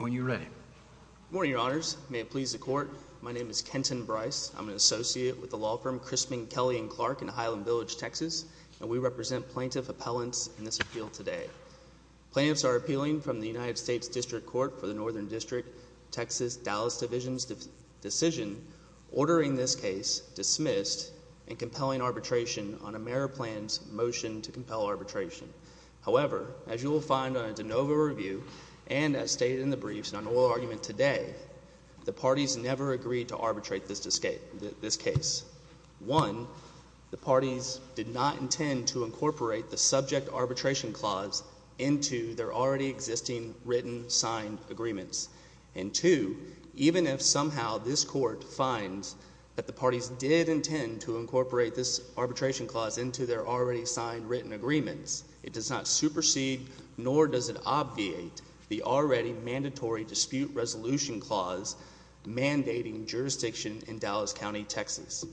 al. Are you ready? Good morning, Your Honors. May it please the Court, my name is Kenton Bryce. I'm an associate with the law firm Crispin, Kelly & Clark in Highland Village, Texas, and we represent plaintiff appellants in this appeal today. Plaintiffs are appealing from the United States District Court for the Northern District, Texas, Dallas Division's decision ordering this case dismissed and compelling arbitration on AmeriPlan's motion to compel arbitration. However, as you will find on a de novo review and as stated in the briefs and on oral argument today, the parties never agreed to arbitrate this case. One, the parties did not intend to incorporate the subject arbitration clause into their already existing written, signed agreements, and two, even if somehow this Court finds that the parties did intend to incorporate this arbitration clause into their already signed, written agreements, it does not supersede nor does it obviate the already mandatory dispute resolution clause mandating jurisdiction in Dallas County, Texas.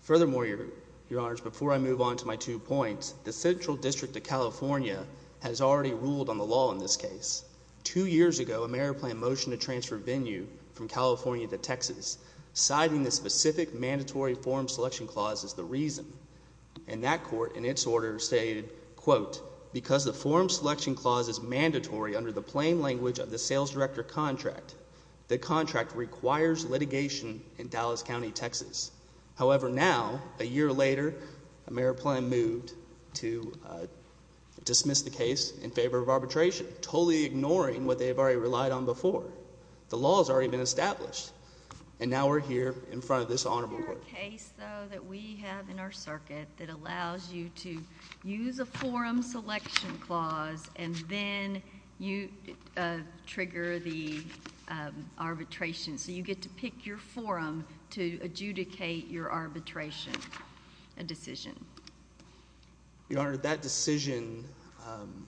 Furthermore, Your Honors, before I move on to my two points, the Central District of California has already ruled on the law in this case. Two years ago, AmeriPlan motioned a transfer venue from California to Texas, citing the specific mandatory form selection clause as the reason. And that court, in its order, stated, quote, because the form selection clause is mandatory under the plain language of the sales director contract, the contract requires litigation in Dallas County, Texas. However, now, a year later, AmeriPlan moved to dismiss the case in favor of arbitration, totally ignoring what they have already relied on before. The law has already been established. And now we're here in front of this honorable court. Is there a case, though, that we have in our circuit that allows you to use a form selection clause and then you trigger the arbitration, so you get to pick your forum to adjudicate your arbitration, a decision? Your Honor, that decision, I'm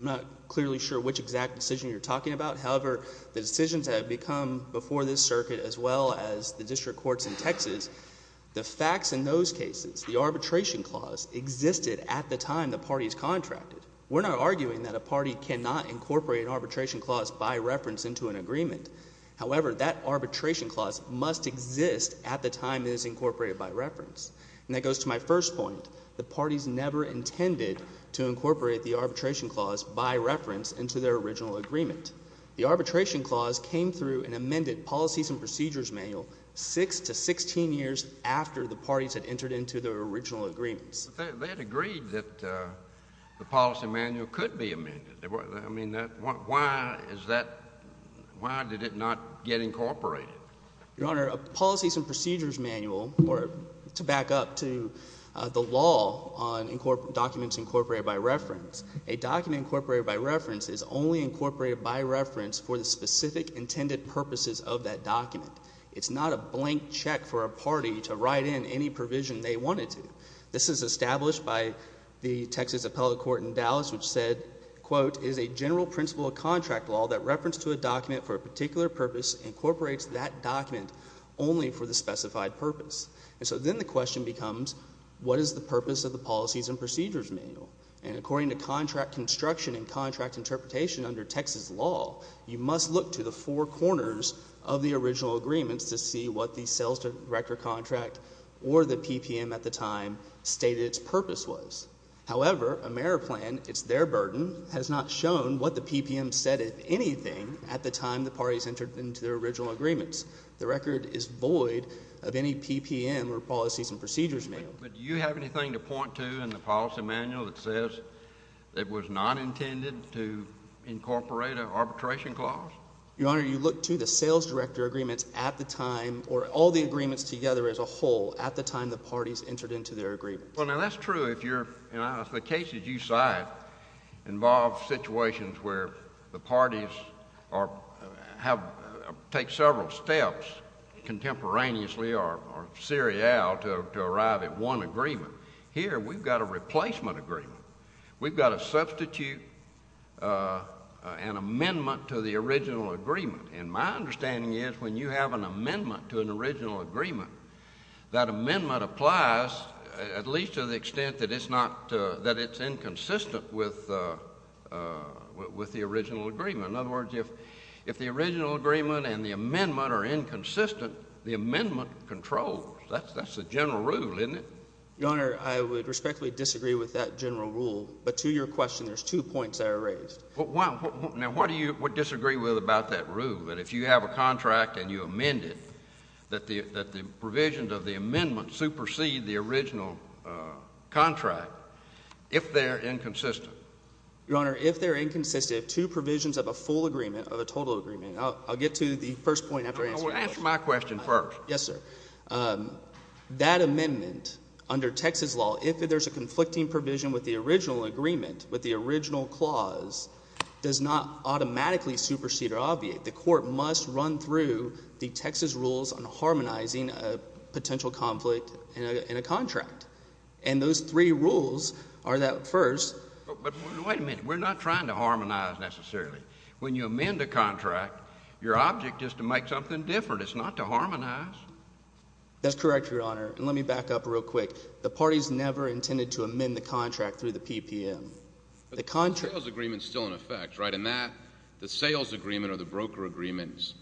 not clearly sure which exact decision you're talking about. However, the decisions that have become before this circuit, as well as the district courts in Texas, the facts in those cases, the arbitration clause, existed at the time the parties contracted. We're not arguing that a party cannot incorporate an arbitration clause by reference into an agreement. However, that arbitration clause must exist at the time it is incorporated by reference. And that goes to my first point. The parties never intended to incorporate the arbitration clause by reference into their original agreement. The arbitration clause came through an amended policies and procedures manual six to 16 years after the parties had entered into their original agreements. But they had agreed that the policy manual could be amended. I mean, why is that, why did it not get incorporated? Your Honor, a policies and procedures manual, or to back up to the law on documents incorporated by reference, a document incorporated by reference is only incorporated by reference for the specific intended purposes of that document. It's not a blank check for a party to write in any provision they wanted to. This is established by the Texas Appellate Court in Dallas, which said, quote, is a general principle of contract law that reference to a document for a particular purpose incorporates that document only for the specified purpose. And so then the question becomes, what is the purpose of the policies and procedures manual? And according to contract construction and contract interpretation under Texas law, you must look to the four corners of the original agreements to see what the sales director contract or the PPM at the time stated its purpose was. However, AmeriPlan, it's their burden, has not shown what the PPM said, if anything, at the time the parties entered into their original agreements. The record is void of any PPM or policies and procedures manual. But do you have anything to point to in the policy manual that says it was not intended to incorporate an arbitration clause? Your Honor, you look to the sales director agreements at the time, or all the agreements together as a whole, at the time the parties entered into their agreement. Well, now that's true if you're, if the cases you cite involve situations where the parties are, have, take several steps contemporaneously or serial to arrive at one agreement. Here we've got a replacement agreement. We've got to substitute an amendment to the original agreement. And my understanding is when you have an amendment to an original agreement, that amendment applies at least to the extent that it's not, that it's inconsistent with the original agreement. In other words, if, if the original agreement and the amendment are inconsistent, the amendment controls. That's, that's the general rule, isn't it? Your Honor, I would respectfully disagree with that general rule. But to your question, there's two points that are raised. Well, now what do you disagree with about that rule? That if you have a contract and you amend it, that the, that the provisions of the amendment supersede the original contract, if they're inconsistent? Your Honor, if they're inconsistent, if two provisions of a full agreement or a total agreement, I'll, I'll get to the first point after I answer that. I want to answer my question first. Yes, sir. That amendment under Texas law, if there's a conflicting provision with the original agreement, with the original clause, does not automatically supersede or obviate. The court must run through the Texas rules on harmonizing a potential conflict in a contract. And those three rules are that first. But wait a minute. We're not trying to harmonize necessarily. When you amend a contract, your object is to make something different. It's not to harmonize. That's correct, Your Honor. And let me back up real quick. The parties never intended to amend the contract through the PPM. The contract. But the sales agreement's still in effect, right? And that, the sales agreement or the broker agreements,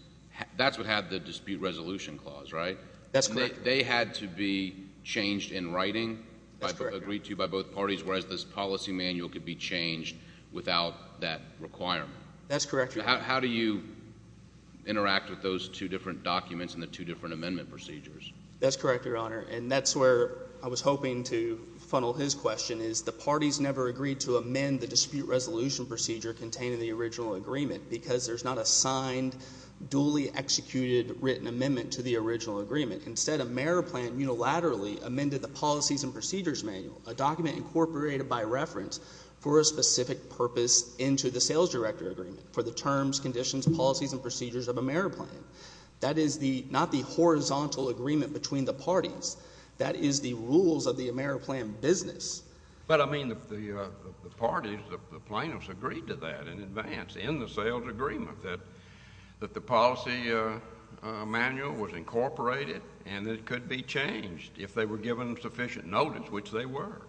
that's what had the dispute resolution clause, right? That's correct. They had to be changed in writing, agreed to by both parties, whereas this policy manual could be changed without that requirement. That's correct, Your Honor. How do you interact with those two different documents and the two different amendment procedures? That's correct, Your Honor. And that's where I was hoping to funnel his question, is the parties never agreed to amend the dispute resolution procedure containing the original agreement because there's not a signed, duly executed written amendment to the original agreement. Instead, a merit plan unilaterally amended the policies and procedures manual, a document incorporated by reference for a specific purpose into the sales director agreement for the terms, conditions, policies, and procedures of a merit plan. That is not the horizontal agreement between the parties. That is the rules of the merit plan business. But I mean, the parties, the plaintiffs agreed to that in advance in the sales agreement that the policy manual was incorporated and it could be changed if they were given sufficient notice, which they were.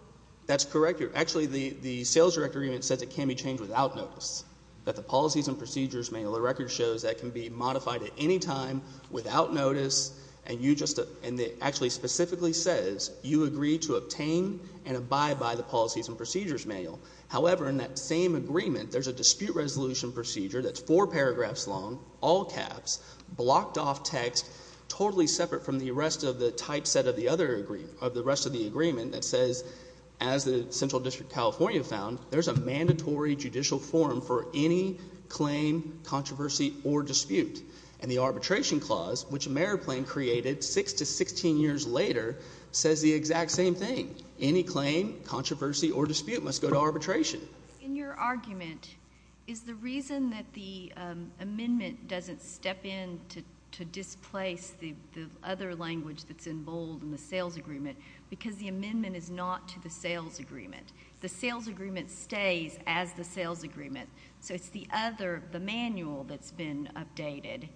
That's correct, Your Honor. Actually, the sales director agreement says it can be changed without notice, that the policies and procedures manual, the record shows that can be modified at any time without notice and you just, and it actually specifically says you agree to obtain and abide by the policies and procedures manual. However, in that same agreement, there's a dispute resolution procedure that's four paragraphs long, all caps, blocked off text, totally separate from the rest of the typeset of the other agreement, of the rest of the agreement that says, as the Central District of California found, there's a mandatory judicial forum for any claim, controversy, or dispute. And the arbitration clause, which a merit plan created six to 16 years later, says the exact same thing. Any claim, controversy, or dispute must go to arbitration. In your argument, is the reason that the amendment doesn't step in to displace the other language that's in bold in the sales agreement because the amendment is not to the sales agreement? The sales agreement stays as the sales agreement, so it's the other, the manual that's been updated,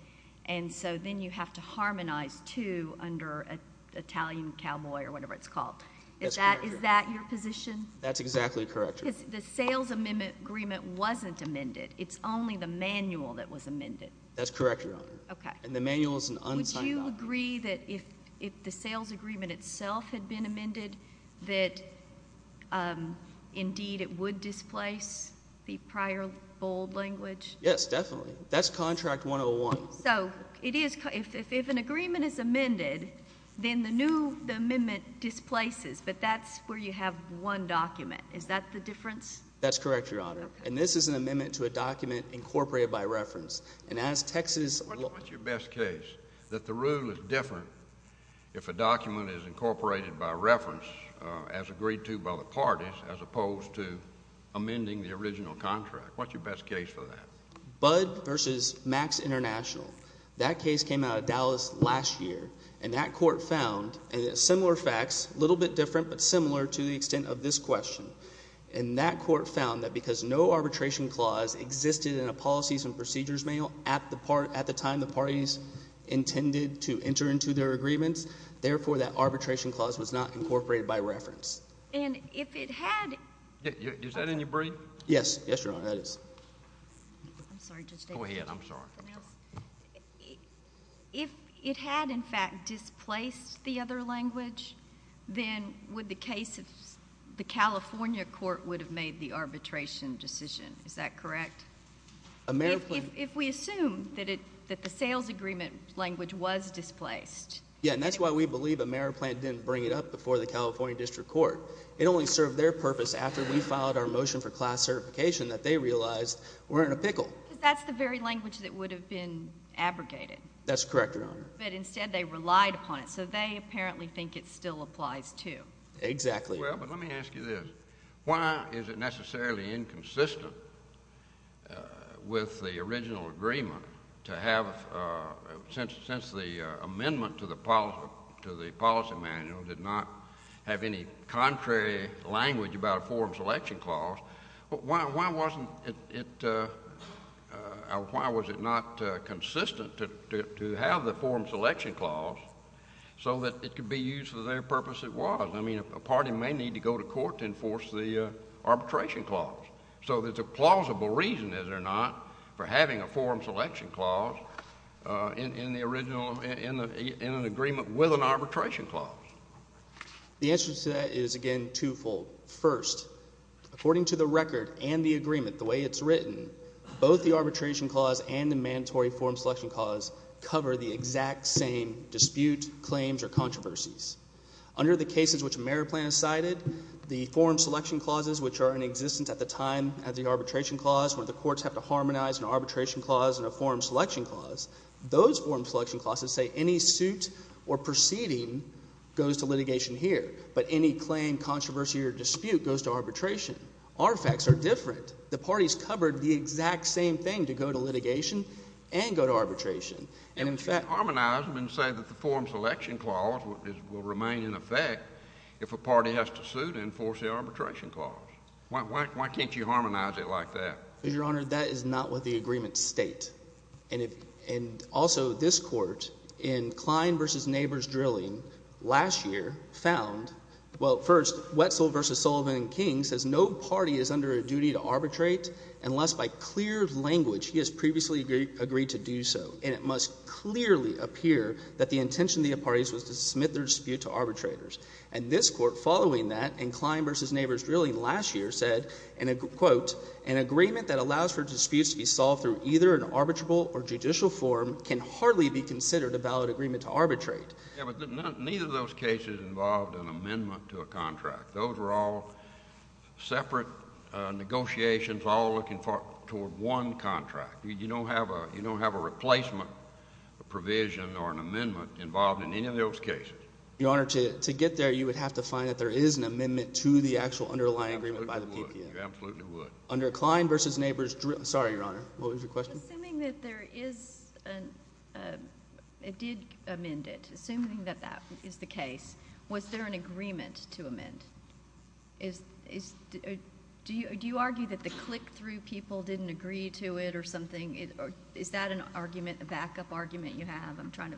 and so then you have to harmonize two under Italian cowboy or whatever it's called. That's correct, Your Honor. Is that your position? That's exactly correct, Your Honor. Because the sales amendment agreement wasn't amended. It's only the manual that was amended. That's correct, Your Honor. Okay. And the manual is an unsigned document. Would you agree that if the sales agreement itself had been amended, that indeed it would displace the prior bold language? Yes, definitely. That's contract 101. So, it is, if an agreement is amended, then the new, the amendment displaces, but that's where you have one document. Is that the difference? That's correct, Your Honor. Okay. And this is an amendment to a document incorporated by reference. And as Texas... What's your best case that the rule is different if a document is incorporated by reference as agreed to by the parties, as opposed to amending the original contract? What's your best case for that? Budd versus Max International. That case came out of Dallas last year, and that court found, and it's similar facts, little bit different, but similar to the extent of this question. And that court found that because no arbitration clause existed in a policies and procedures manual at the time the parties intended to enter into their agreements, therefore that arbitration clause was not incorporated by reference. And if it had... Is that in your brief? Yes. Yes, Your Honor. That is. I'm sorry. Go ahead. I'm sorry. If it had, in fact, displaced the other language, then would the case of the California court would have made the arbitration decision, is that correct? If we assume that the sales agreement language was displaced... Yes. And that's why we believe AmeriPlan didn't bring it up before the California District Court. It only served their purpose after we filed our motion for class certification that they realized we're in a pickle. Because that's the very language that would have been abrogated. That's correct, Your Honor. But instead they relied upon it. So they apparently think it still applies, too. Exactly. Well, but let me ask you this. Why is it necessarily inconsistent with the original agreement to have... since the amendment to the policy manual did not have any contrary language about a forum selection clause, why wasn't it... or why was it not consistent to have the forum selection clause so that it could be used for their purpose it was? I mean, a party may need to go to court to enforce the arbitration clause. So there's a plausible reason, is there not, for having a forum selection clause in the original... in an agreement with an arbitration clause. The answer to that is, again, twofold. First, according to the record and the agreement, the way it's written, both the arbitration clause and the mandatory forum selection clause cover the exact same dispute, claims, or controversies. Under the cases which the merit plan has cited, the forum selection clauses, which are in existence at the time of the arbitration clause, where the courts have to harmonize an arbitration clause and a forum selection clause, those forum selection clauses say any suit or proceeding goes to litigation here. But any claim, controversy, or dispute goes to arbitration. Artifacts are different. The parties covered the exact same thing to go to litigation and go to arbitration. And if you harmonize them and say that the forum selection clause will remain in effect if a party has to suit and enforce the arbitration clause, why can't you harmonize it like that? Your Honor, that is not what the agreements state. And also, this Court, in Klein v. Neighbors Drilling, last year, found... well, first, Wetzel v. Sullivan and King says no party is under a duty to arbitrate unless by clear language he has previously agreed to do so. And it must clearly appear that the intention of the parties was to submit their dispute to arbitrators. And this Court, following that in Klein v. Neighbors Drilling last year, said, and I quote, an agreement that allows for disputes to be solved through either an arbitrable or judicial forum can hardly be considered a valid agreement to arbitrate. Yeah, but neither of those cases involved an amendment to a contract. Those were all separate negotiations all looking toward one contract. You don't have a replacement provision or an amendment involved in any of those cases. Your Honor, to get there, you would have to find that there is an amendment to the actual underlying agreement by the PPO. You absolutely would. Under Klein v. Neighbors Drilling... sorry, Your Honor. What was your question? Assuming that there is an... it did amend it, assuming that that is the case, was there an agreement to amend? Is... do you argue that the click-through people didn't agree to it or something? Is that an argument, a backup argument you have? I'm trying to...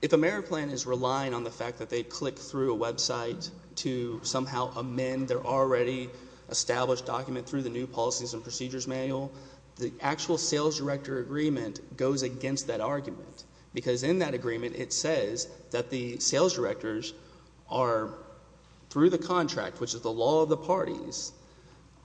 If a merit plan is relying on the fact that they click through a website to somehow amend their already established document through the New Policies and Procedures Manual, the actual sales director agreement goes against that argument. Because in that agreement it says that the sales directors are, through the contract, which is the law of the parties,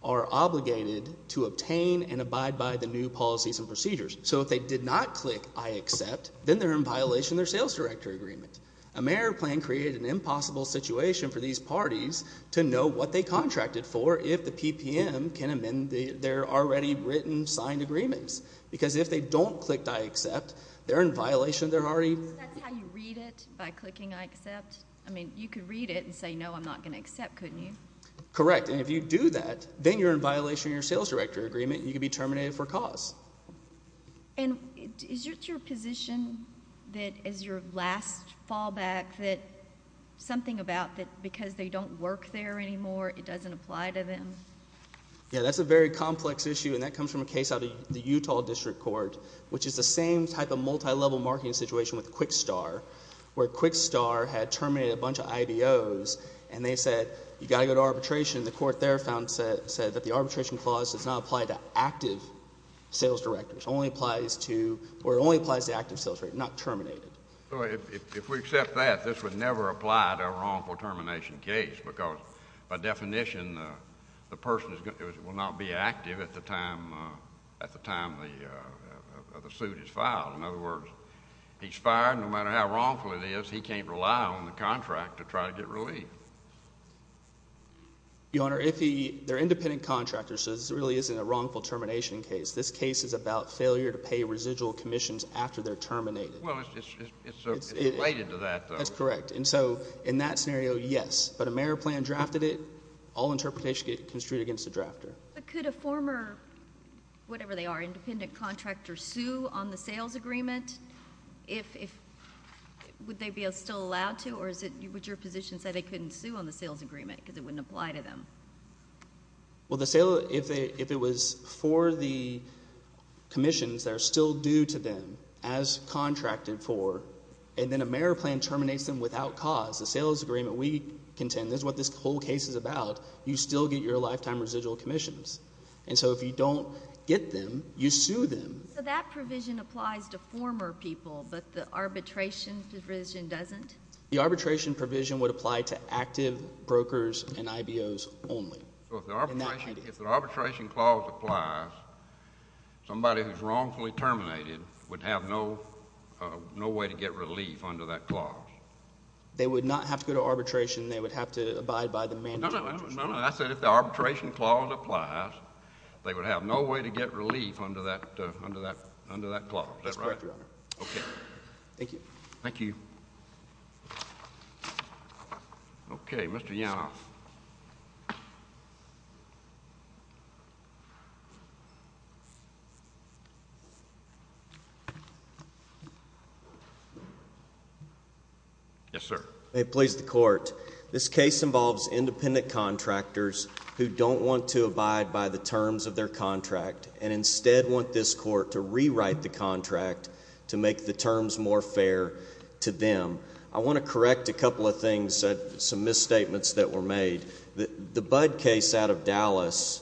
are obligated to obtain and abide by the new policies and procedures. So if they did not click I accept, then they're in violation of their sales director agreement. A merit plan created an impossible situation for these parties to know what they contracted for if the PPM can amend their already written, signed agreements. Because if they don't click I accept, they're in violation of their already... So that's how you read it, by clicking I accept? I mean, you could read it and say, no, I'm not going to accept, couldn't you? Correct. And if you do that, then you're in violation of your sales director agreement and you could be terminated for cause. And is it your position that as your last fallback that something about that because they don't work there anymore, it doesn't apply to them? Yeah, that's a very complex issue and that comes from a case out of the Utah District Court, which is the same type of multilevel marketing situation with Quickstar, where Quickstar had terminated a bunch of IBOs and they said, you've got to go to arbitration. The court there found, said that the arbitration clause does not apply to active sales directors. Only applies to, or only applies to active sales directors, not terminated. If we accept that, this would never apply to a wrongful termination case because by that time, the person will not be active at the time, at the time the suit is filed. In other words, he's fired, no matter how wrongful it is, he can't rely on the contract to try to get relief. Your Honor, if he, they're independent contractors, so this really isn't a wrongful termination case. This case is about failure to pay residual commissions after they're terminated. Well, it's related to that, though. That's correct. And so, in that scenario, yes, but a mayor plan drafted it, all interpretations get construed against the drafter. But could a former, whatever they are, independent contractor, sue on the sales agreement if, if, would they be still allowed to, or is it, would your position say they couldn't sue on the sales agreement because it wouldn't apply to them? Well, the sale, if they, if it was for the commissions that are still due to them as contracted for, and then a mayor plan terminates them without cause, the sales agreement, we contend, this is what this whole case is about, you still get your lifetime residual commissions. And so if you don't get them, you sue them. So that provision applies to former people, but the arbitration provision doesn't? The arbitration provision would apply to active brokers and IBOs only. So if the arbitration, if the arbitration clause applies, somebody who's wrongfully terminated would have no, no way to get relief under that clause? They would not have to go to arbitration. They would have to abide by the mandate. No, no, no, no, no. I said if the arbitration clause applies, they would have no way to get relief under that, under that, under that clause, is that right? That's correct, Your Honor. Okay. Thank you. Thank you. Okay. Mr. Yanoff. Yes, sir. It plays the court. This case involves independent contractors who don't want to abide by the terms of their contract and instead want this court to rewrite the contract to make the terms more fair to them. I want to correct a couple of things, some misstatements that were made. The Budd case out of Dallas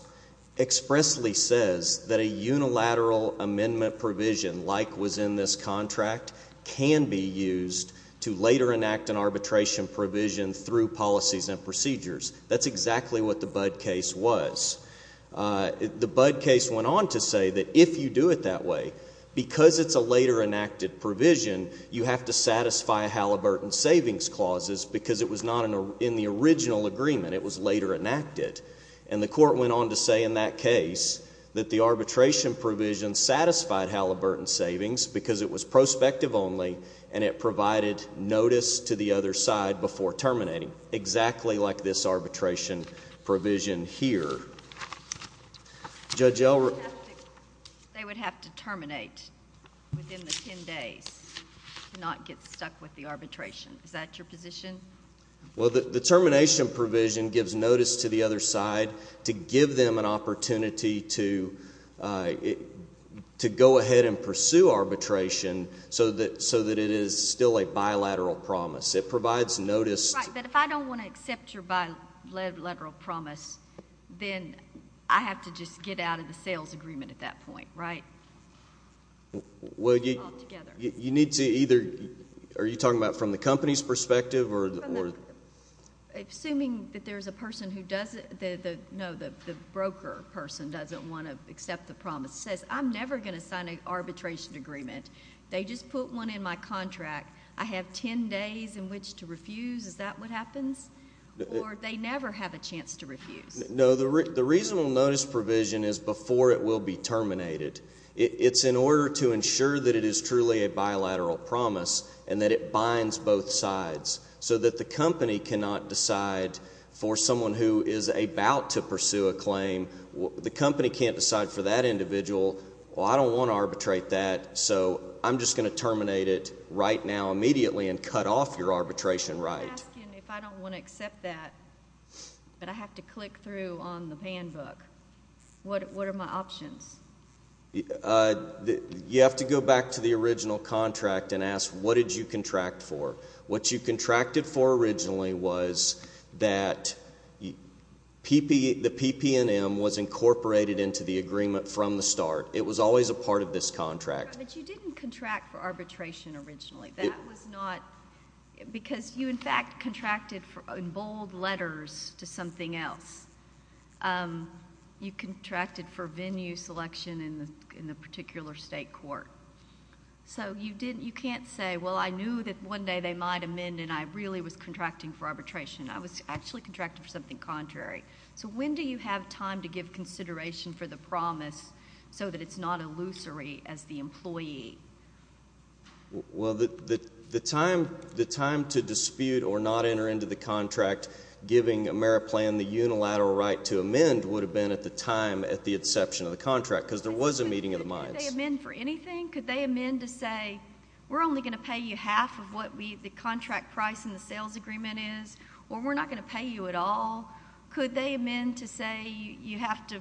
expressly says that a unilateral amendment provision like was in this contract can be used to later enact an arbitration provision through policies and procedures. That's exactly what the Budd case was. The Budd case went on to say that if you do it that way, because it's a later enacted provision, you have to satisfy Halliburton savings clauses because it was not in the original agreement. It was later enacted. And the court went on to say in that case that the arbitration provision satisfied Halliburton savings because it was prospective only and it provided notice to the other side before terminating, exactly like this arbitration provision here. Judge Elrick? They would have to terminate within the 10 days to not get stuck with the arbitration. Is that your position? Well, the termination provision gives notice to the other side to give them an opportunity to go ahead and pursue arbitration so that it is still a bilateral promise. It provides notice. Right, but if I don't want to accept your bilateral promise, then I have to just get out of the sales agreement at that point, right? You need to either... are you talking about from the company's perspective or... Assuming that there's a person who doesn't... no, the broker person doesn't want to accept the promise, says, I'm never going to sign an arbitration agreement. They just put one in my contract. I have 10 days in which to refuse. Is that what happens? Or they never have a chance to refuse? No, the reasonable notice provision is before it will be terminated. It's in order to ensure that it is truly a bilateral promise and that it binds both sides so that the company cannot decide for someone who is about to pursue a claim, the company can't decide for that individual, well, I don't want to arbitrate that, so I'm just going to terminate it right now, immediately, and cut off your arbitration right. I'm asking if I don't want to accept that, but I have to click through on the ban book. What are my options? You have to go back to the original contract and ask, what did you contract for? What you contracted for originally was that the PPNM was incorporated into the agreement from the start. It was always a part of this contract. But you didn't contract for arbitration originally. That was not... because you, in fact, contracted in bold letters to something else. You contracted for venue selection in the particular state court. So you can't say, well, I knew that one day they might amend, and I really was contracting for arbitration. I was actually contracting for something contrary. So when do you have time to give consideration for the promise so that it's not illusory as the employee? Well, the time to dispute or not enter into the contract giving AmeriPlan the unilateral right to amend would have been at the time at the inception of the contract, because there was a meeting of the minds. Could they amend for anything? Could they amend to say, we're only going to pay you half of what the contract price in the sales agreement is, or we're not going to pay you at all? Could they amend to say you have to...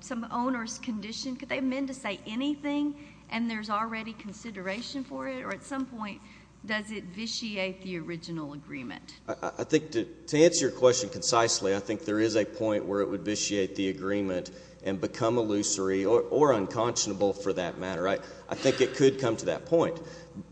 some owner's condition? Could they amend to say anything, and there's already consideration for it? Or at some point, does it vitiate the original agreement? I think to answer your question concisely, I think there is a point where it would vitiate the agreement and become illusory or unconscionable for that matter. I think it could come to that point.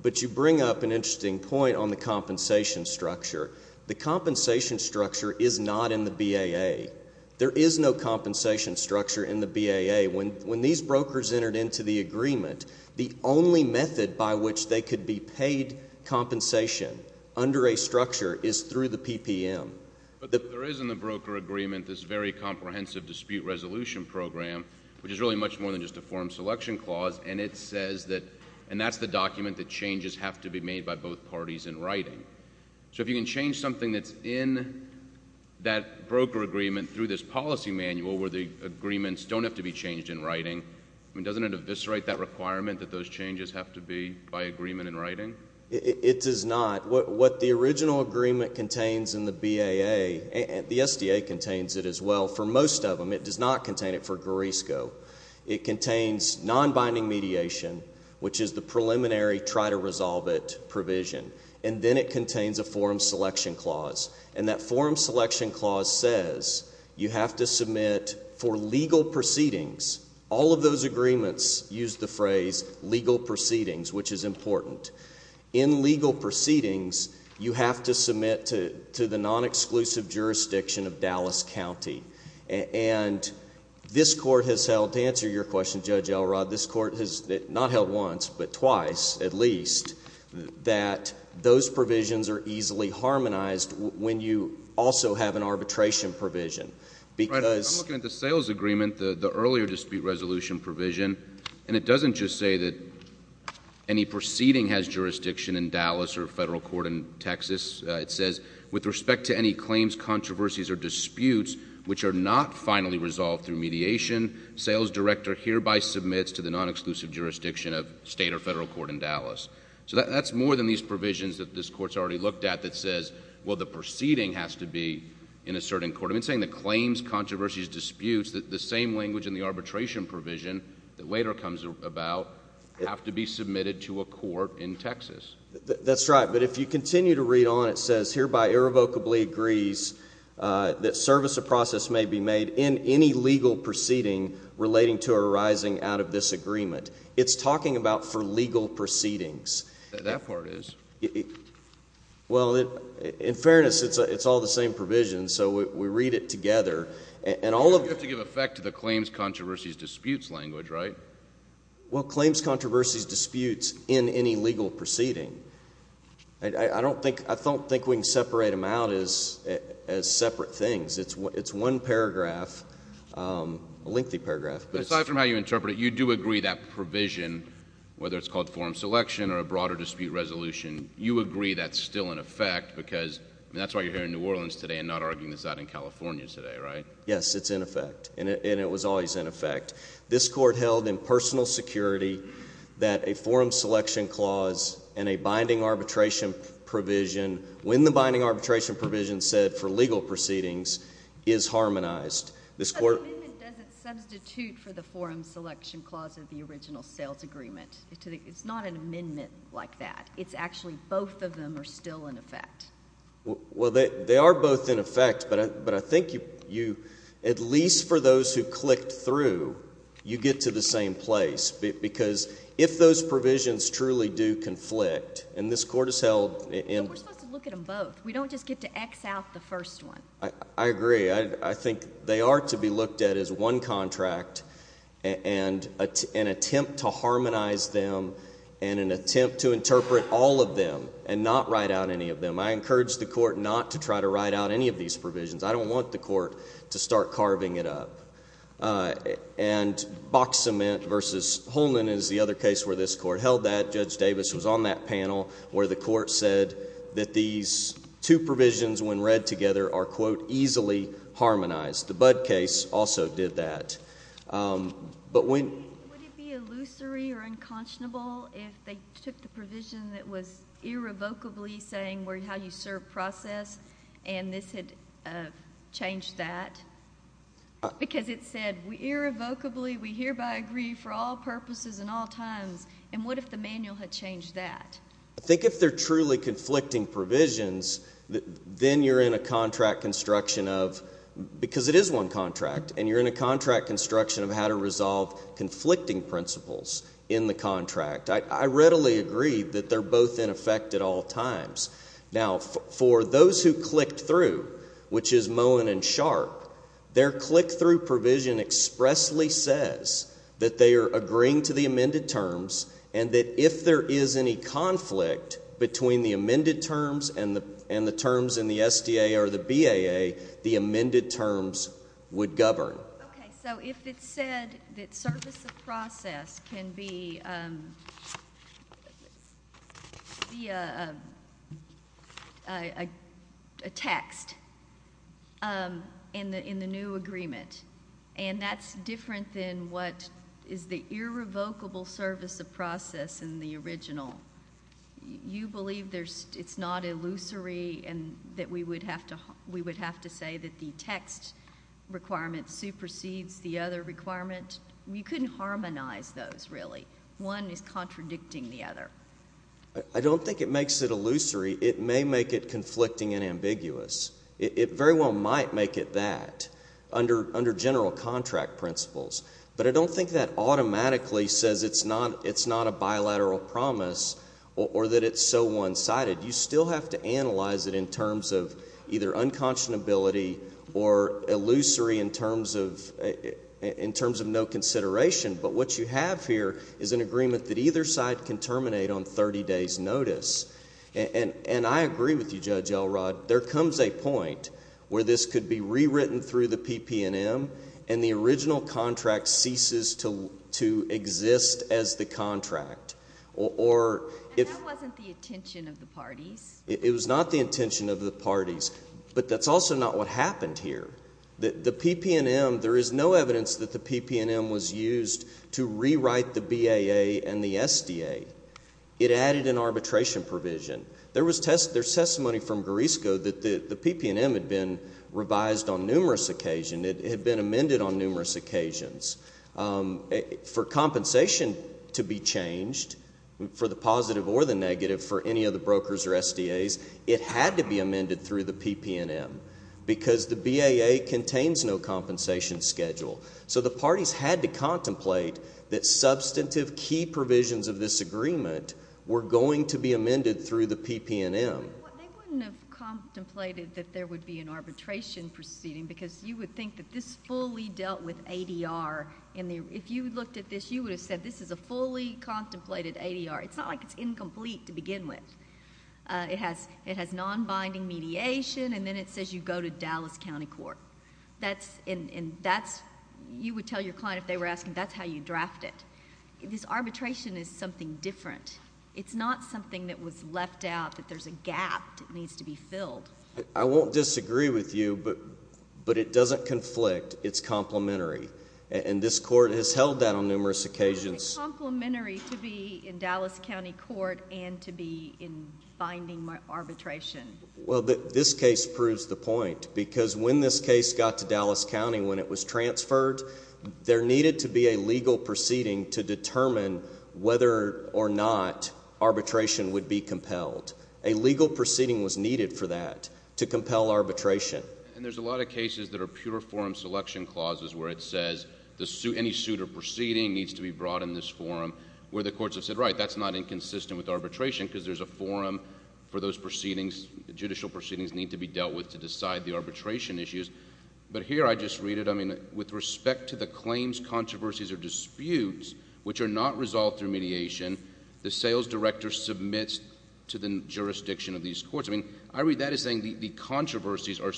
But you bring up an interesting point on the compensation structure. The compensation structure is not in the BAA. There is no compensation structure in the BAA. When these brokers entered into the agreement, the only method by which they could be paid compensation under a structure is through the PPM. But there is in the broker agreement this very comprehensive dispute resolution program, which is really much more than just a form selection clause, and it says that... and that's the document that changes have to be made by both parties in writing. So if you can change something that's in that broker agreement through this policy manual where the agreements don't have to be changed in writing, doesn't it eviscerate that requirement that those changes have to be by agreement in writing? It does not. What the original agreement contains in the BAA, the SDA contains it as well. For most of them, it does not contain it for GRRSCO. It contains non-binding mediation, which is the preliminary try-to-resolve-it provision, and then it contains a form selection clause. And that form selection clause says you have to submit for legal proceedings... all of those agreements use the phrase legal proceedings, which is important. In legal proceedings, you have to submit to the non-exclusive jurisdiction of Dallas County. And this court has held... to answer your question, Judge Elrod, this court has not held once, but twice at least, that those provisions are easily harmonized when you also have an arbitration provision because... Right. I'm looking at the sales agreement, the earlier dispute resolution provision, and it doesn't just say that any proceeding has jurisdiction in Dallas or a federal court in Texas. It says, with respect to any claims, controversies, or disputes which are not finally resolved through mediation, sales director hereby submits to the non-exclusive jurisdiction of state or federal court in Dallas. So that's more than these provisions that this court's already looked at that says, well, the proceeding has to be in a certain court. I've been saying the claims, controversies, disputes, the same language in the arbitration provision that later comes about, have to be submitted to a court in Texas. That's right. But if you continue to read on, it says, hereby irrevocably agrees that service or process may be made in any legal proceeding relating to arising out of this agreement. It's talking about for legal proceedings. That part is. Well, in fairness, it's all the same provision, so we read it together. And all of... But you have to give effect to the claims, controversies, disputes language, right? Well, claims, controversies, disputes in any legal proceeding, I don't think we can separate them out as separate things. It's one paragraph, a lengthy paragraph. But aside from how you interpret it, you do agree that provision, whether it's called forum selection or a broader dispute resolution, you agree that's still in effect, because that's why you're here in New Orleans today and not arguing this out in California today, right? Yes, it's in effect. And it was always in effect. This court held in personal security that a forum selection clause and a binding arbitration provision, when the binding arbitration provision said for legal proceedings, is harmonized. This court... But the amendment doesn't substitute for the forum selection clause of the original sales agreement. It's not an amendment like that. It's actually both of them are still in effect. Well, they are both in effect, but I think you... at least for those who clicked through, you get to the same place, because if those provisions truly do conflict, and this court has held... But we're supposed to look at them both. We don't just get to X out the first one. I agree. I think they are to be looked at as one contract and an attempt to harmonize them and an attempt to interpret all of them and not write out any of them. I encourage the court not to try to write out any of these provisions. I don't want the court to start carving it up. And box cement versus Holman is the other case where this court held that. Judge Davis was on that panel where the court said that these two provisions when read together are, quote, easily harmonized. The Budd case also did that. But when... Would it be illusory or unconscionable if they took the provision that was irrevocably saying how you serve process and this had changed that? Because it said irrevocably, we hereby agree for all purposes and all times, and what if the manual had changed that? I think if they're truly conflicting provisions, then you're in a contract construction of... because it is one contract, and you're in a contract construction of how to resolve conflicting principles in the contract. I readily agree that they're both in effect at all times. Now, for those who clicked through, which is Moen and Sharp, their click-through provision expressly says that they are agreeing to the amended terms and that if there is any conflict between the amended terms and the terms in the SDA or the BAA, the amended terms would govern. Okay. And that's different than what is the irrevocable service of process in the original. You believe it's not illusory and that we would have to say that the text requirement supersedes the other requirement? We couldn't harmonize those, really. One is contradicting the other. I don't think it makes it illusory. It may make it conflicting and ambiguous. It very well might make it that. Under general contract principles. But I don't think that automatically says it's not a bilateral promise or that it's so one-sided. You still have to analyze it in terms of either unconscionability or illusory in terms of no consideration. But what you have here is an agreement that either side can terminate on 30 days' notice. And I agree with you, Judge Elrod. There comes a point where this could be rewritten through the PPNM and the original contract ceases to exist as the contract. Or if... And that wasn't the intention of the parties. It was not the intention of the parties. But that's also not what happened here. The PPNM, there is no evidence that the PPNM was used to rewrite the BAA and the SDA. It added an arbitration provision. There was testimony from Grisco that the PPNM had been revised on numerous occasions. It had been amended on numerous occasions. For compensation to be changed, for the positive or the negative for any of the brokers or SDAs, it had to be amended through the PPNM. Because the BAA contains no compensation schedule. So the parties had to contemplate that substantive key provisions of this agreement were going to be amended through the PPNM. They wouldn't have contemplated that there would be an arbitration proceeding because you would think that this fully dealt with ADR. If you looked at this, you would have said this is a fully contemplated ADR. It's not like it's incomplete to begin with. It has non-binding mediation and then it says you go to Dallas County Court. You would tell your client if they were asking, that's how you draft it. This arbitration is something different. It's not something that was left out, that there's a gap that needs to be filled. I won't disagree with you, but it doesn't conflict. It's complementary. And this court has held that on numerous occasions. It's complementary to be in Dallas County Court and to be in binding arbitration. Well, this case proves the point. Because when this case got to Dallas County, when it was transferred, there needed to be a legal proceeding to determine whether or not arbitration would be compelled. A legal proceeding was needed for that, to compel arbitration. And there's a lot of cases that are pure forum selection clauses where it says any suit or proceeding needs to be brought in this forum, where the courts have said, right, that's not inconsistent with arbitration because there's a forum for those proceedings. Judicial proceedings need to be dealt with to decide the arbitration issues. But here, I just read it, I mean, with respect to the claims, controversies, or disputes, which are not resolved through mediation, the sales director submits to the jurisdiction of these courts. I mean, I read that as saying the controversies are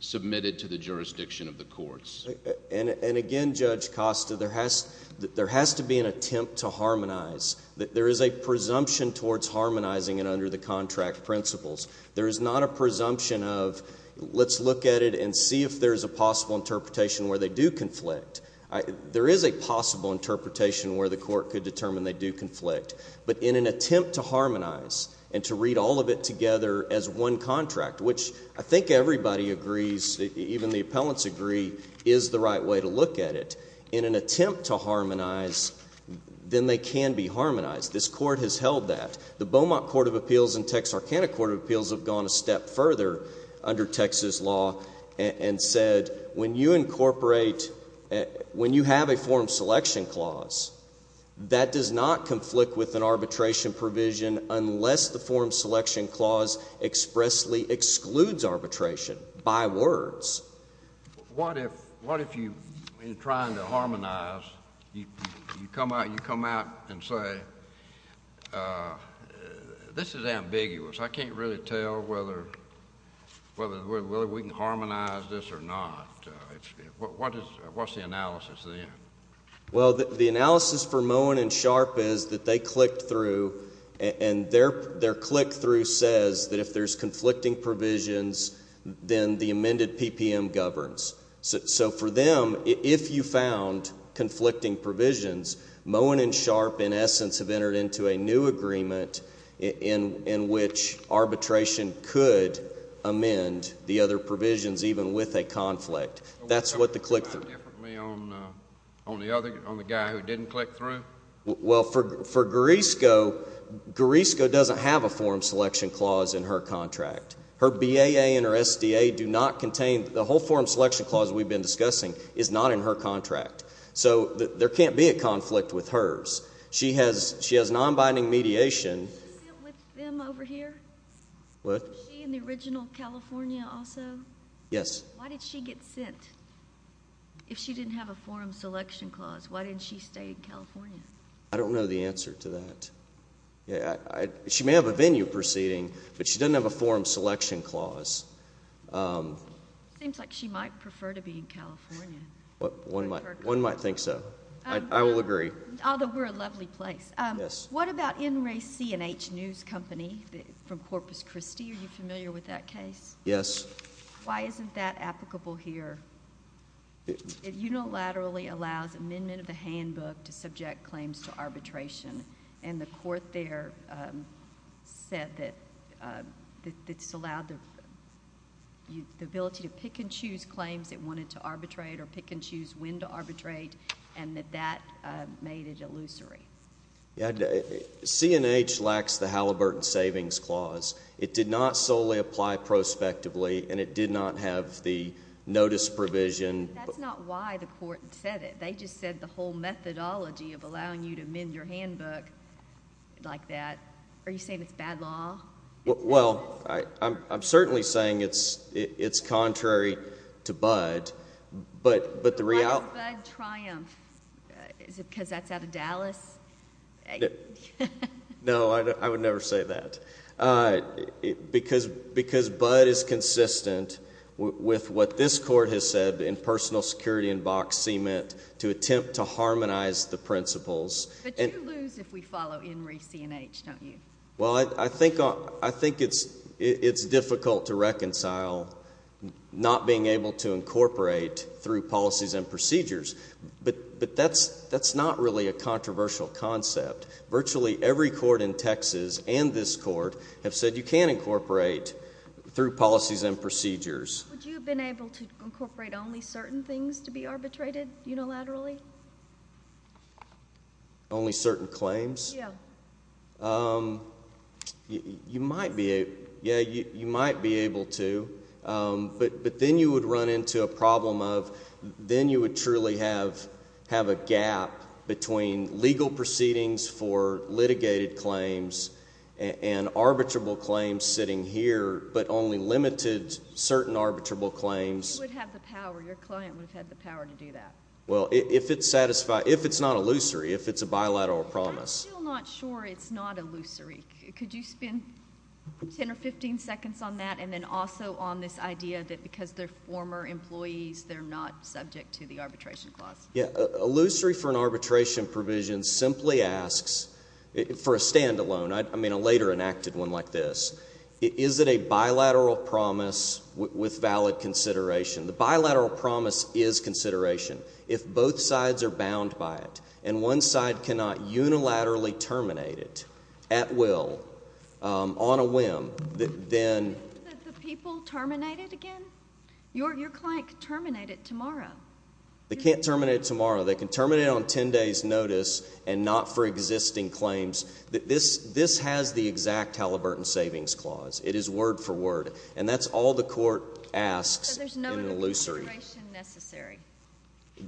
submitted to the jurisdiction of the courts. And again, Judge Costa, there has to be an attempt to harmonize. There is a presumption towards harmonizing it under the contract principles. There is not a presumption of let's look at it and see if there's a possible interpretation where they do conflict. There is a possible interpretation where the court could determine they do conflict. But in an attempt to harmonize and to read all of it together as one contract, which I think everybody agrees, even the appellants agree, is the right way to look at it. In an attempt to harmonize, then they can be harmonized. This court has held that. The Beaumont Court of Appeals and Texarkana Court of Appeals have gone a step further under Texas law and said when you incorporate, when you have a form selection clause, that does not conflict with an arbitration provision unless the form selection clause expressly excludes arbitration by words. What if you're trying to harmonize, you come out and say, this is ambiguous. I can't really tell whether we can harmonize this or not. What's the analysis then? Well, the analysis for Moen and Sharp is that they clicked through, and their click through says that if there's conflicting provisions, then the amended PPM governs. So for them, if you found conflicting provisions, Moen and Sharp, in essence, have entered into a new agreement in which arbitration could amend the other provisions, even with a conflict. That's what the click through. Can you comment differently on the guy who didn't click through? Well, for Garisco, Garisco doesn't have a form selection clause in her contract. Her BAA and her SDA do not contain, the whole form selection clause we've been discussing is not in her contract. So there can't be a conflict with hers. She has non-binding mediation. Was she with them over here? What? Was she in the original California also? Yes. Why did she get sent? If she didn't have a form selection clause, why didn't she stay in California? I don't know the answer to that. She may have a venue proceeding, but she doesn't have a form selection clause. Seems like she might prefer to be in California. One might think so. I will agree. Although, we're a lovely place. What about NRAC and H News Company from Corpus Christi? Are you familiar with that case? Yes. Why isn't that applicable here? It unilaterally allows amendment of the handbook to subject claims to arbitration, and the court there said that it's allowed the ability to pick and choose claims it wanted to arbitrate or pick and choose when to arbitrate, and that that made it illusory. C&H lacks the Halliburton Savings Clause. It did not solely apply prospectively, and it did not have the notice provision. That's not why the court said it. They just said the whole methodology of allowing you to amend your handbook like that. Are you saying it's bad law? Well, I'm certainly saying it's contrary to BUDD, but the reality... Why does BUDD triumph? Is it because that's out of Dallas? No, I would never say that. Because BUDD is consistent with what this court has said in personal security and box cement to attempt to harmonize the principles... But you lose if we follow NRAC and H, don't you? Well, I think it's difficult to reconcile not being able to incorporate through policies and procedures, but that's not really a controversial concept. Virtually every court in Texas and this court have said you can incorporate through policies and procedures. Would you have been able to incorporate only certain things to be arbitrated unilaterally? Only certain claims? Yeah. Yeah, you might be able to, but then you would run into a problem of then you would truly have a gap between legal proceedings for litigated claims and arbitrable claims sitting here, but only limited certain arbitrable claims... You would have the power. Your client would have had the power to do that. Well, if it's not illusory, if it's a bilateral promise... I'm still not sure it's not illusory. Could you spend 10 or 15 seconds on that and then also on this idea that because they're former employees, they're not subject to the arbitration clause? Yeah. Illusory for an arbitration provision simply asks, for a standalone, I mean a later enacted one like this, is it a bilateral promise with valid consideration? The bilateral promise is consideration if both sides are bound by it and one side cannot unilaterally terminate it at will, on a whim, then... The people terminate it again? Your client could terminate it tomorrow. They can't terminate it tomorrow. They can terminate it on 10 days notice and not for existing claims. This has the exact Halliburton Savings Clause. It is word for word, and that's all the court asks in illusory. So there's no consideration necessary?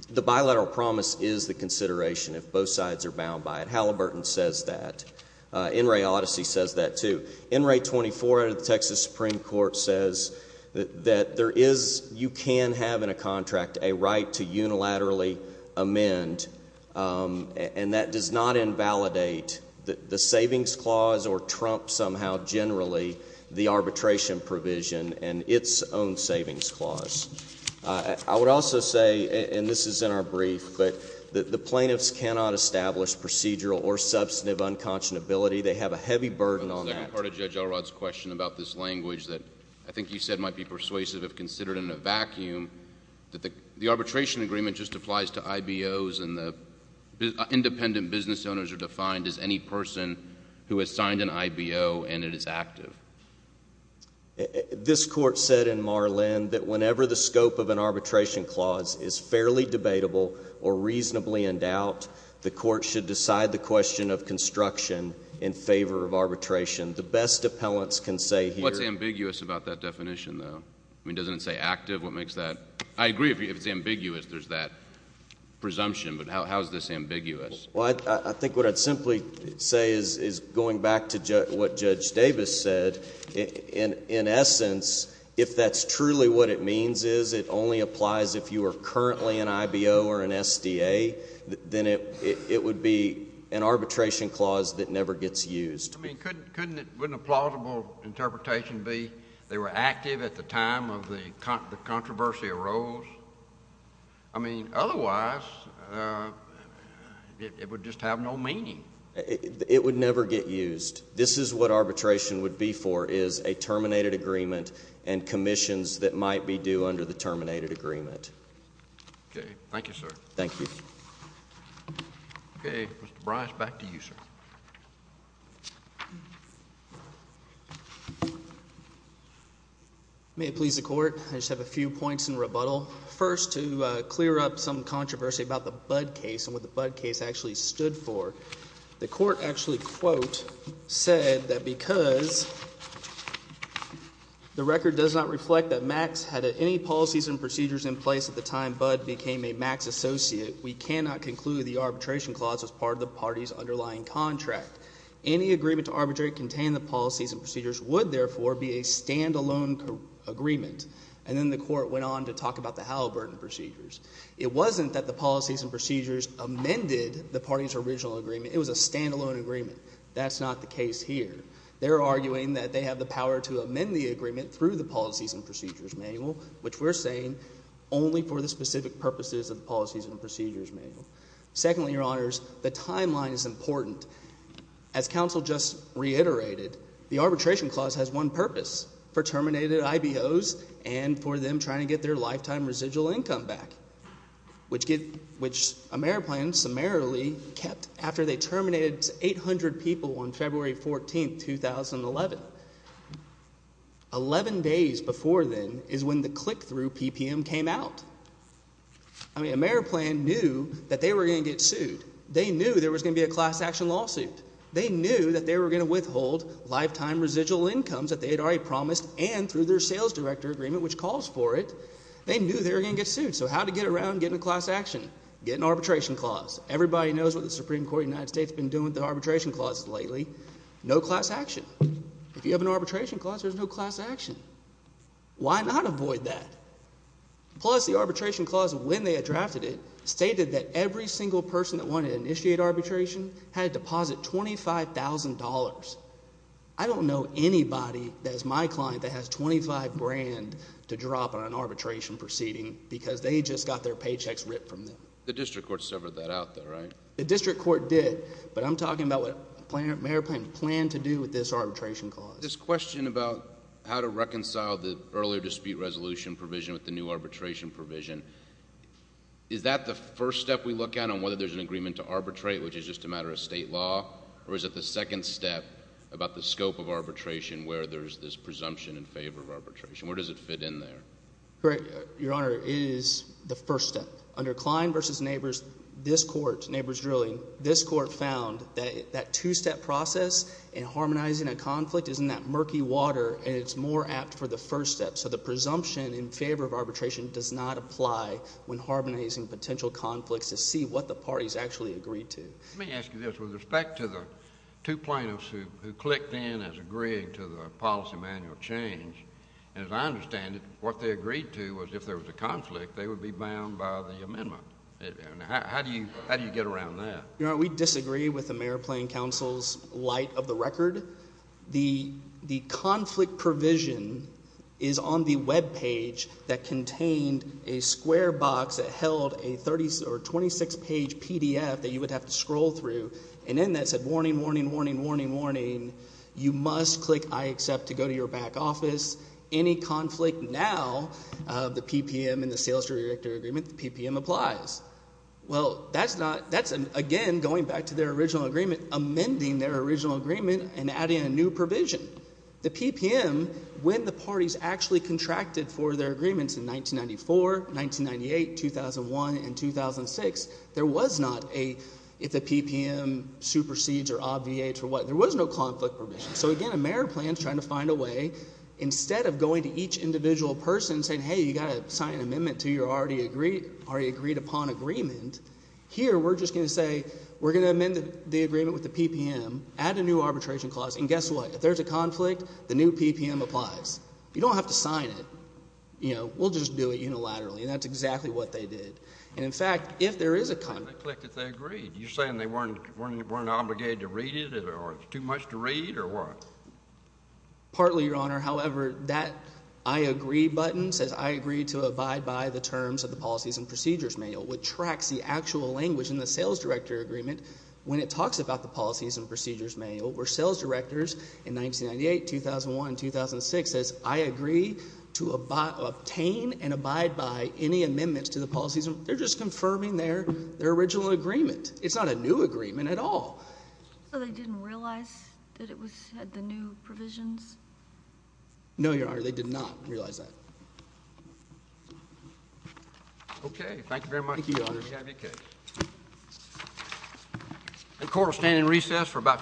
The bilateral promise is the consideration if both sides are bound by it. Halliburton says that. NRA Odyssey says that too. NRA 24 out of the Texas Supreme Court says that there is, you can have in a contract, a right to unilaterally amend, and that does not invalidate the savings clause or trump somehow generally the arbitration provision and its own savings clause. I would also say, and this is in our brief, that the plaintiffs cannot establish procedural or substantive unconscionability. They have a heavy burden on that. The second part of Judge Elrod's question about this language that I think you said might be persuasive if considered in a vacuum, that the arbitration agreement just applies to IBOs and the independent business owners are defined as any person who has signed an IBO and it is active. This court said in Marlin that whenever the scope of an arbitration clause is fairly debatable or reasonably endowed, the court should decide the question of construction in favor of arbitration. The best appellants can say here. What's ambiguous about that definition though? I mean, doesn't it say active? What makes that? I agree if it's ambiguous, there's that presumption, but how is this ambiguous? Well, I think what I'd simply say is going back to what Judge Davis said, in essence, if that's truly what it means is it only applies if you are currently an IBO or an SDA, then it would be an arbitration clause that never gets used. I mean, couldn't a plausible interpretation be they were active at the time of the controversy arose? I mean, otherwise, it would just have no meaning. It would never get used. This is what arbitration would be for is a terminated agreement and commissions that might be due under the terminated agreement. Okay. Thank you, sir. Thank you. Okay. Mr. Bryce, back to you, sir. May it please the court. I just have a few points in rebuttal. First to clear up some controversy about the Budd case and what the Budd case actually stood for. The court actually, quote, said that because the record does not reflect that Max had any policies and procedures in place at the time Budd became a Max associate, we cannot conclude the arbitration clause as part of the party's underlying contract. There would be a standalone agreement. And then the court went on to talk about the Halliburton procedures. It wasn't that the policies and procedures amended the party's original agreement. It was a standalone agreement. That's not the case here. They're arguing that they have the power to amend the agreement through the policies and procedures manual, which we're saying only for the specific purposes of the policies and procedures manual. Secondly, Your Honors, the timeline is important. As counsel just reiterated, the arbitration clause has one purpose, for terminated IBOs and for them trying to get their lifetime residual income back, which AmeriPlan summarily kept after they terminated 800 people on February 14, 2011. Eleven days before then is when the click-through PPM came out. I mean, AmeriPlan knew that they were going to get sued. They knew there was going to be a class action lawsuit. They knew that they were going to withhold lifetime residual incomes that they had already promised and through their sales director agreement, which calls for it. They knew they were going to get sued. So how to get around getting a class action? Get an arbitration clause. Everybody knows what the Supreme Court of the United States has been doing with the arbitration clauses lately. No class action. If you have an arbitration clause, there's no class action. Why not avoid that? Plus, the arbitration clause, when they had drafted it, stated that every single person that wanted to initiate arbitration had to deposit $25,000. I don't know anybody that is my client that has $25,000 to drop on an arbitration proceeding because they just got their paychecks ripped from them. The district court severed that out though, right? The district court did, but I'm talking about what AmeriPlan planned to do with this arbitration clause. This question about how to reconcile the earlier dispute resolution provision with the new agreement to arbitrate, which is just a matter of state law, or is it the second step about the scope of arbitration where there's this presumption in favor of arbitration? Where does it fit in there? Your Honor, it is the first step. Under Klein v. Neighbors, this court, Neighbors Drilling, this court found that that two-step process in harmonizing a conflict is in that murky water, and it's more apt for the first step. So the presumption in favor of arbitration does not apply when harmonizing potential conflicts to see what the parties actually agreed to. Let me ask you this. With respect to the two plaintiffs who clicked in as agreeing to the policy manual change, as I understand it, what they agreed to was if there was a conflict, they would be bound by the amendment. How do you get around that? Your Honor, we disagree with AmeriPlan counsel's light of the record. The conflict provision is on the webpage that contained a square box that held a 26-page PDF that you would have to scroll through, and in that said, warning, warning, warning, warning, you must click I accept to go to your back office. Any conflict now, the PPM and the sales director agreement, the PPM applies. Well, that's not, that's again going back to their original agreement, amending their agreement, adding a new provision. The PPM, when the parties actually contracted for their agreements in 1994, 1998, 2001, and 2006, there was not a, if the PPM supersedes or obviates or what, there was no conflict provision. So again, AmeriPlan is trying to find a way, instead of going to each individual person and saying, hey, you've got to sign an amendment to your already agreed upon agreement, here we're just going to say, we're going to amend the agreement with the PPM, add a new arbitration clause, and guess what? If there's a conflict, the new PPM applies. You don't have to sign it, you know, we'll just do it unilaterally, and that's exactly what they did. And in fact, if there is a conflict. They clicked that they agreed. You're saying they weren't, weren't, weren't obligated to read it or it's too much to read or what? Partly, Your Honor, however, that I agree button says I agree to abide by the terms of the policies and procedures manual, which tracks the actual language in the sales director agreement when it talks about the policies and procedures manual, where sales directors in 1998, 2001, 2006 says, I agree to obtain and abide by any amendments to the policies and procedures confirming their original agreement. It's not a new agreement at all. So they didn't realize that it was, had the new provisions? No Your Honor, they did not realize that. Okay. Thank you very much. Thank you, Your Honor. Thank you. You have your case. The court will stand in recess for about.